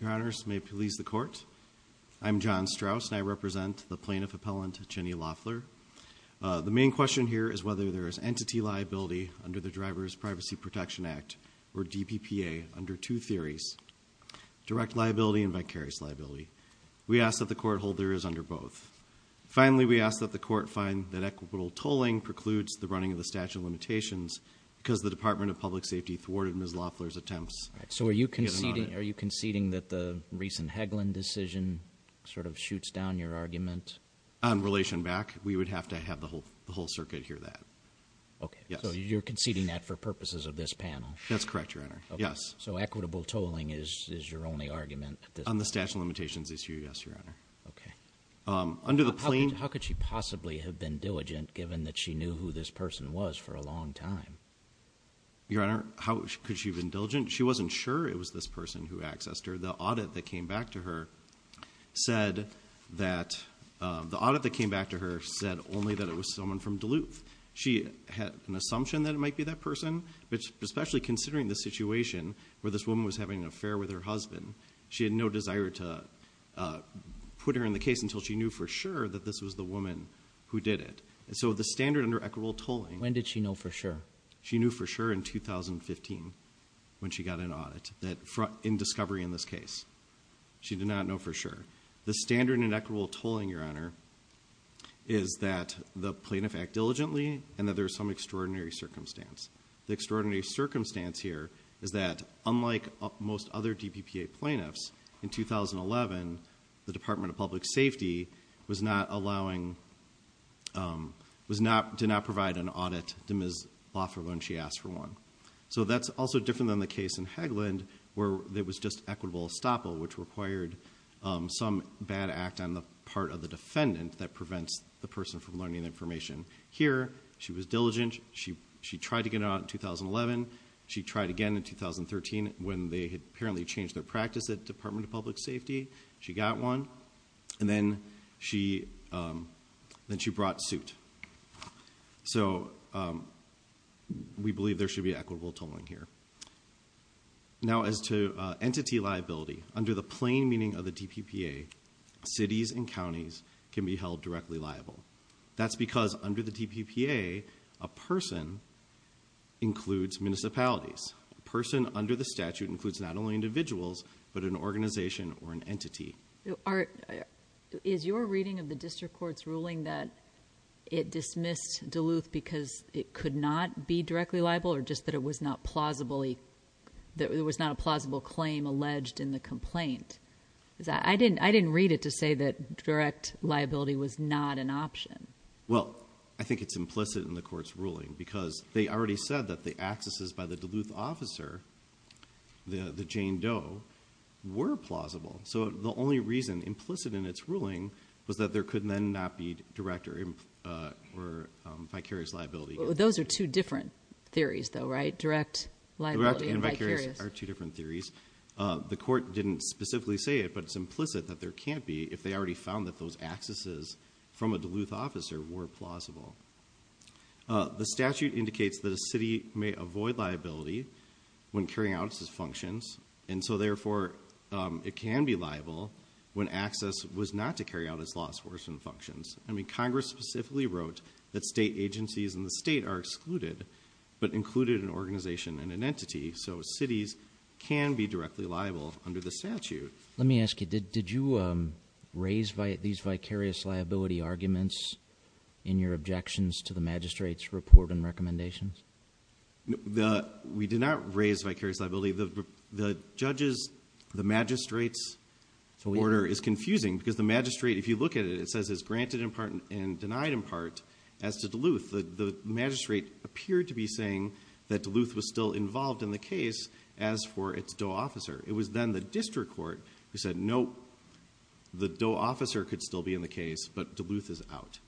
Your Honors, may it please the Court, I'm John Strauss and I represent the Plaintiff Appellant Jennie Loeffler. The main question here is whether there is entity liability under the Driver's Privacy Protection Act or DPPA under two theories, direct liability and vicarious liability. We ask that the Court hold there is under both. Finally, we ask that the Court find that equitable tolling precludes the running of the statute of limitations because the Department of Public Safety thwarted Ms. Loeffler's attempts. So are you conceding that the recent Hagelin decision sort of shoots down your argument? On relation back, we would have to have the whole circuit hear that. Okay, so you're conceding that for purposes of this panel? That's correct, Your Honor, yes. Equitable tolling is your only argument? On the statute of limitations issue, yes, Your Honor. Okay. Under the plaintiff... How could she possibly have been diligent given that she knew who this person was for a long time? Your Honor, how could she have been diligent? She wasn't sure it was this person who accessed her. The audit that came back to her said that the audit that came back to her said only that it was someone from Duluth. She had an assumption that it might be that person, but especially considering the situation where this woman was having an affair with her husband, she had no desire to put her in the case until she knew for sure that this was the woman who did it. And so the standard under equitable tolling... When did she know for sure? She knew for sure in 2015 when she got an audit, in discovery in this case. She did not know for sure. The standard in equitable tolling, Your Honor, is that the plaintiff act diligently and that there is some extraordinary circumstance. The extraordinary circumstance here is that unlike most other DPPA plaintiffs, in 2011, the Department of Public Safety did not provide an audit to Ms. Laffer when she asked for one. So that's also different than the case in Hagland where there was just equitable estoppel, which required some bad act on the part of the defendant that prevents the person from learning the information. Here, she was diligent. She tried to get an audit in 2011. She tried again in 2013 when they had apparently changed their practice at the Department of Public Safety. She got one. And then she brought suit. So we believe there should be equitable tolling here. Now as to entity liability, under the plain meaning of the DPPA, cities and counties can be held directly liable. That's because under the DPPA, a person includes municipalities. A person under the statute includes not only individuals, but an organization or an entity. Is your reading of the district court's ruling that it dismissed Duluth because it could not be directly liable or just that it was not a plausible claim alleged in the complaint? I didn't read it to say that direct liability was not an option. Well, I think it's implicit in the court's ruling because they already said that the accesses by the Duluth officer, the Jane Doe, were plausible. So the only reason implicit in its ruling was that there could then not be direct or vicarious liability. Those are two different theories though, right? Direct liability and vicarious. Direct and vicarious are two different theories. The court didn't specifically say it, but it's implicit that there can't be if they already found that those accesses from a Duluth officer were plausible. The statute indicates that a city may avoid liability when carrying out its functions, and so therefore it can be liable when access was not to carry out its law enforcement functions. I mean, Congress specifically wrote that state agencies in the state are excluded, but included an organization and an entity. So cities can be directly liable under the statute. Let me ask you, did you raise these vicarious liability arguments in your objections to the magistrate's report and recommendations? We did not raise vicarious liability. The judge's, the magistrate's order is confusing because the magistrate, if you look at it, it says it's granted in part and denied in part as to Duluth. The magistrate appeared to be saying that Duluth was still involved in the case as for its DOE officer. It was then the district court who said, nope, the DOE officer could still be in the case, but Duluth is out.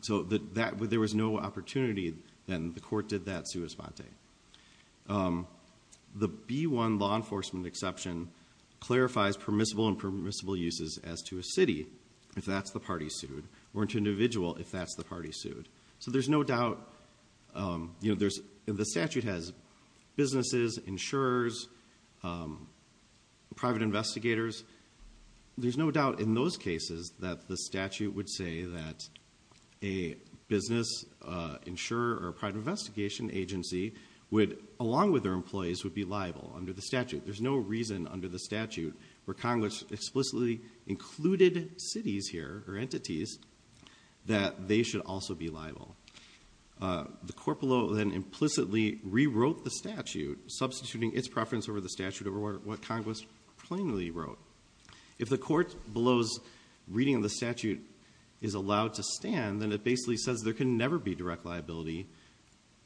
So there was no opportunity, and the court did that sua sponte. The B-1 law enforcement exception clarifies permissible and permissible uses as to a city if that's the party sued or an individual if that's the party sued. So there's no doubt, you know, the statute has businesses, insurers, private investigators. There's no doubt in those cases that the statute would say that a business insurer or a private investigation agency would, along with their employees, would be liable under the statute. There's no reason under the statute where Congress explicitly included cities here or there to be held civilly liable. The court below then implicitly rewrote the statute, substituting its preference over the statute over what Congress plainly wrote. If the court below's reading of the statute is allowed to stand, then it basically says there can never be direct liability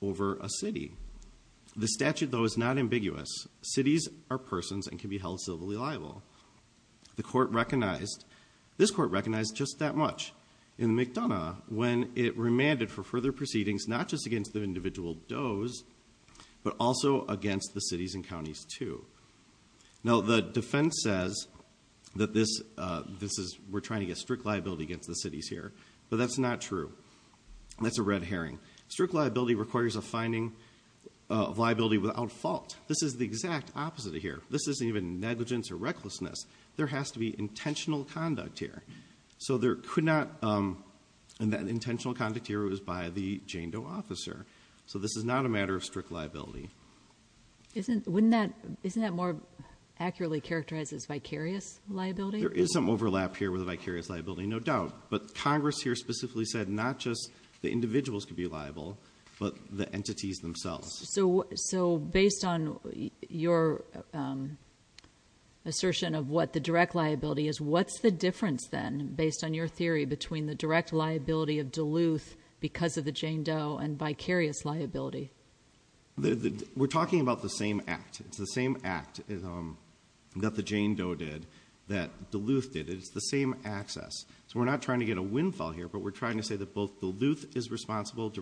over a city. The statute, though, is not ambiguous. Cities are persons and can be held civilly liable. The court recognized, this court recognized just that much. In McDonough, when it remanded for further proceedings, not just against the individual does, but also against the cities and counties, too. Now the defense says that this is, we're trying to get strict liability against the cities here. But that's not true. That's a red herring. Strict liability requires a finding of liability without fault. This is the exact opposite of here. This isn't even negligence or recklessness. There has to be intentional conduct here. So there could not, and that intentional conduct here was by the Jane Doe officer. So this is not a matter of strict liability. Isn't, wouldn't that, isn't that more accurately characterized as vicarious liability? There is some overlap here with vicarious liability, no doubt. But Congress here specifically said not just the individuals could be liable, but the entities themselves. So, so based on your assertion of what the direct liability is, what's the difference then based on your theory between the direct liability of Duluth because of the Jane Doe and vicarious liability? We're talking about the same act. It's the same act that the Jane Doe did, that Duluth did. It's the same access. So we're not trying to get a windfall here, but we're trying to say that both Duluth is responsible. And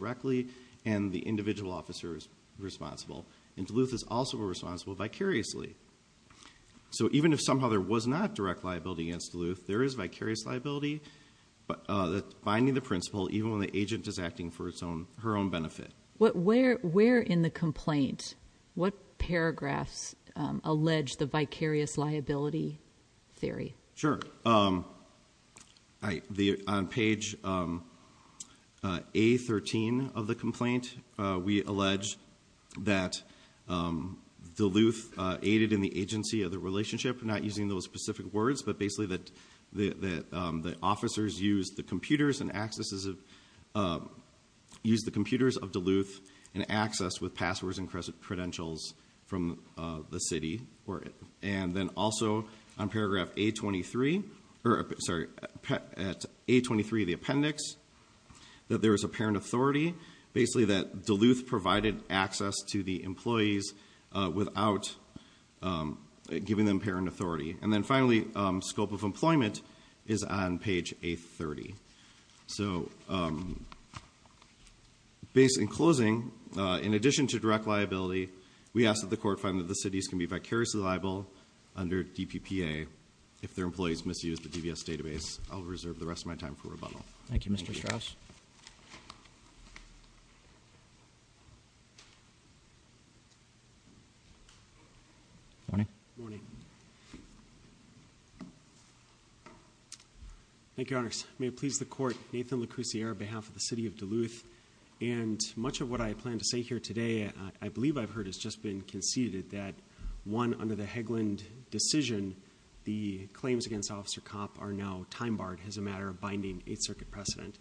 Duluth is also responsible vicariously. So even if somehow there was not direct liability against Duluth, there is vicarious liability. But finding the principle, even when the agent is acting for its own, her own benefit. What, where, where in the complaint, what paragraphs allege the vicarious liability theory? Sure. So I, the, on page A13 of the complaint, we allege that Duluth aided in the agency of the relationship, not using those specific words, but basically that the, that the officers use the computers and accesses of, use the computers of Duluth and access with passwords and credentials from the city. And then also on paragraph A23, or sorry, at A23 of the appendix, that there was a parent authority, basically that Duluth provided access to the employees without giving them parent authority. And then finally, scope of employment is on page A30. So based in closing, in addition to direct liability, we ask that the court find that Duluth cities can be vicariously liable under DPPA if their employees misuse the DVS database. I'll reserve the rest of my time for rebuttal. Thank you, Mr. Strauss. Morning. Thank you, Your Honors. May it please the court, Nathan LeCousier on behalf of the city of Duluth, and much of what I plan to say here today, I believe I've heard, has just been conceded that one, under the Haglund decision, the claims against Officer Kopp are now time-barred as a matter of binding Eighth Circuit precedent.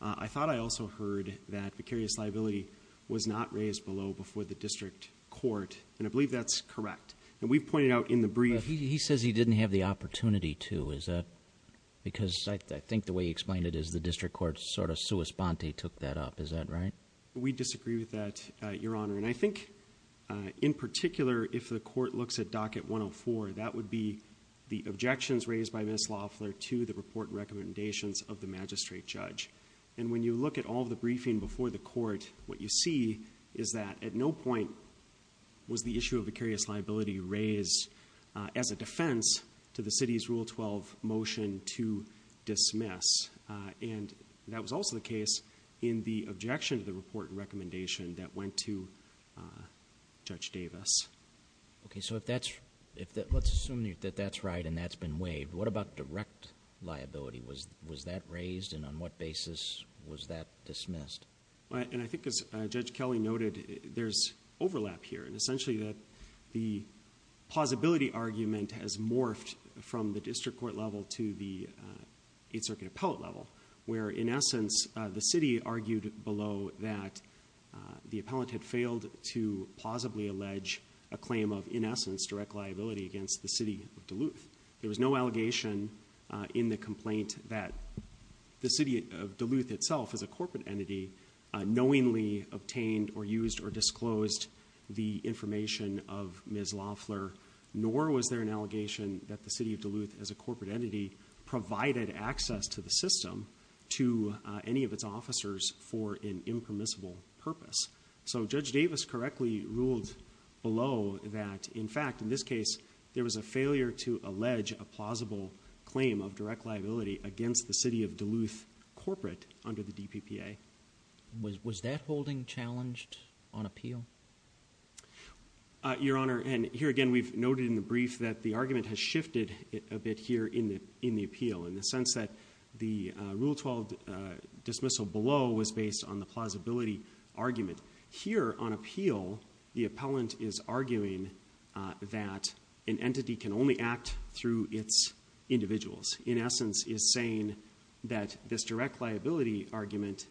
I thought I also heard that vicarious liability was not raised below before the district court, and I believe that's correct. And we've pointed out in the brief... But he says he didn't have the opportunity to, is that... because I think the way he explained it is the district court sort of sua sponte took that up, is that right? We disagree with that, Your Honor, and I think, in particular, if the court looks at Docket 104, that would be the objections raised by Ms. Loeffler to the report recommendations of the magistrate judge. And when you look at all the briefing before the court, what you see is that at no point was the issue of vicarious liability raised as a defense to the city's Rule 12 motion to dismiss. And that was also the case in the objection to the report recommendation that went to Judge Davis. Okay, so if that's... let's assume that that's right and that's been waived, what about direct liability? Was that raised and on what basis was that dismissed? And I think as Judge Kelly noted, there's overlap here, and essentially the plausibility argument has morphed from the district court level to the Eighth Circuit appellate level, where in essence, the city argued below that the appellate had failed to plausibly allege a claim of, in essence, direct liability against the City of Duluth. There was no allegation in the complaint that the City of Duluth itself, as a corporate entity, knowingly obtained or used or disclosed the information of Ms. Loeffler, nor was there an allegation that the City of Duluth, as a corporate entity, provided access to the system to any of its officers for an impermissible purpose. So Judge Davis correctly ruled below that, in fact, in this case, there was a failure to allege a plausible claim of direct liability against the City of Duluth corporate under the DPPA. Was that holding challenged on appeal? Your Honor, and here again, we've noted in the brief that the argument has shifted a bit here in the appeal in the sense that the Rule 12 dismissal below was based on the plausibility argument. Here, on appeal, the appellant is arguing that an entity can only act through its individuals, in essence, is saying that this direct liability argument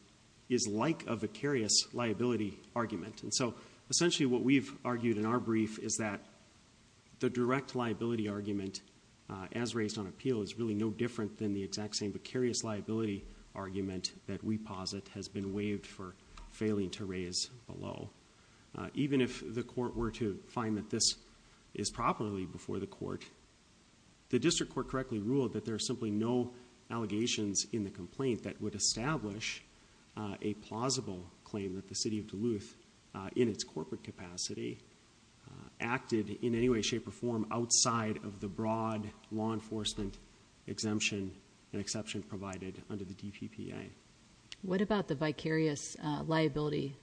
is like a vicarious liability argument. And so, essentially, what we've argued in our brief is that the direct liability argument, as raised on appeal, is really no different than the exact same vicarious liability argument that we posit has been waived for failing to raise below. Even if the court were to find that this is properly before the court, the district court correctly ruled that there are simply no allegations in the complaint that would establish a plausible claim that the City of Duluth, in its corporate capacity, acted in any way, shape, or form outside of the broad law enforcement exemption and exception provided under the DPPA. What about the vicarious liability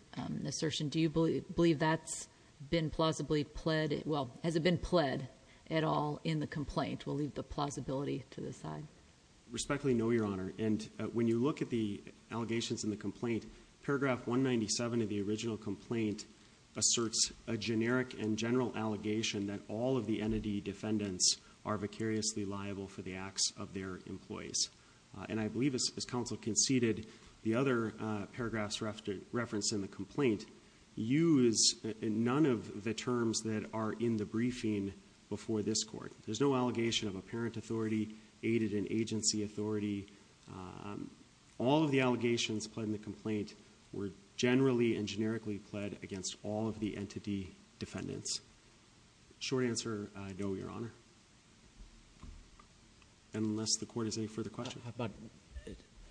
assertion? Do you believe that's been plausibly pled, well, has it been pled at all in the complaint? Which will leave the plausibility to the side. Respectfully, no, Your Honor. And when you look at the allegations in the complaint, paragraph 197 of the original complaint asserts a generic and general allegation that all of the entity defendants are vicariously liable for the acts of their employees. And I believe, as counsel conceded, the other paragraphs referenced in the complaint use none of the terms that are in the briefing before this court. There's no allegation of apparent authority, aided in agency authority. All of the allegations pled in the complaint were generally and generically pled against all of the entity defendants. Short answer, no, Your Honor. Unless the court has any further questions.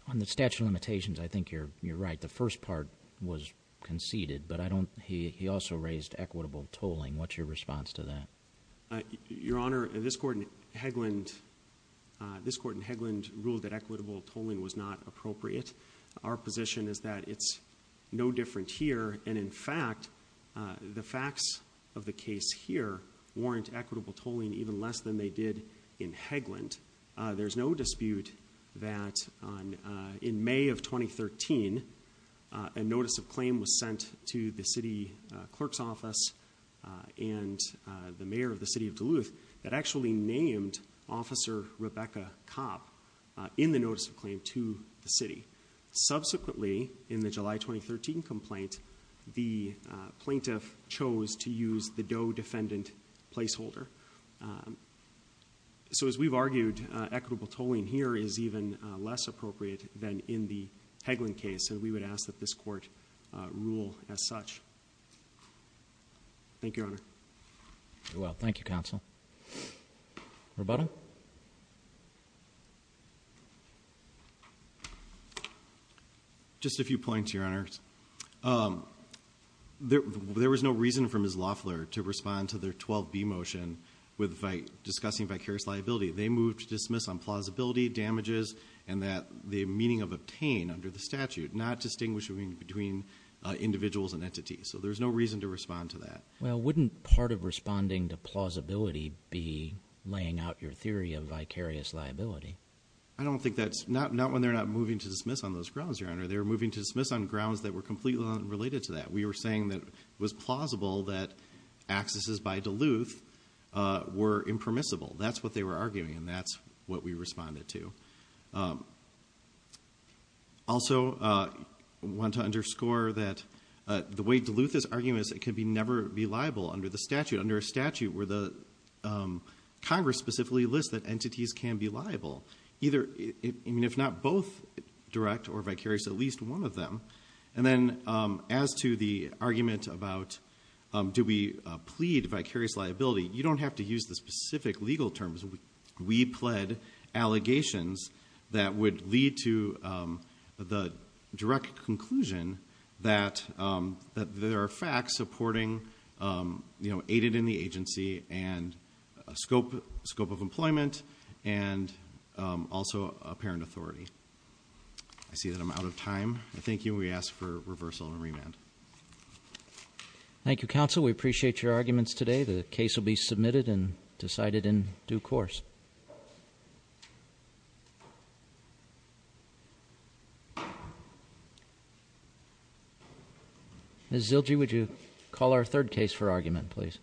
On the statute of limitations, I think you're right. The first part was conceded, but I don't, he also raised equitable tolling. What's your response to that? Your Honor, this court in Hegland ruled that equitable tolling was not appropriate. Our position is that it's no different here, and in fact, the facts of the case here warrant equitable tolling even less than they did in Hegland. There's no dispute that in May of 2013, a notice of claim was sent to the city clerk's office, and the mayor of the city of Duluth, that actually named Officer Rebecca Cobb in the notice of claim to the city. Subsequently, in the July 2013 complaint, the plaintiff chose to use the Doe defendant placeholder. So as we've argued, equitable tolling here is even less appropriate than in the Hegland case, and we would ask that this court rule as such. Thank you, Your Honor. Very well. Thank you, counsel. Roberta? Just a few points, Your Honor. There was no reason for Ms. Loeffler to respond to their 12B motion with discussing vicarious liability. They moved to dismiss on plausibility, damages, and that the meaning of obtain under the statute, not distinguish between individuals and entities. So there's no reason to respond to that. Well, wouldn't part of responding to plausibility be laying out your theory of vicarious liability? I don't think that's, not when they're not moving to dismiss on those grounds, Your Honor. They're moving to dismiss on grounds that were completely unrelated to that. We were saying that it was plausible that accesses by Duluth were impermissible. That's what they were arguing, and that's what we responded to. Also want to underscore that the way Duluth is arguing this, it could never be liable under the statute, under a statute where the Congress specifically lists that entities can be liable, either, I mean, if not both direct or vicarious, at least one of them. And then as to the argument about do we plead vicarious liability, you don't have to use the specific legal terms, we pled allegations that would lead to the direct conclusion that there are facts supporting aided in the agency and scope of employment and also apparent authority. I see that I'm out of time. I thank you, and we ask for reversal and remand. Thank you, counsel. We appreciate your arguments today. The case will be submitted and decided in due course. Ms. Zilge, would you call our third case for argument, please? This case for argument is 1723.1, 24A, Mrs. Martins-Hodges, United States versus Sheila Lasky and 1,200-year-old Eagle.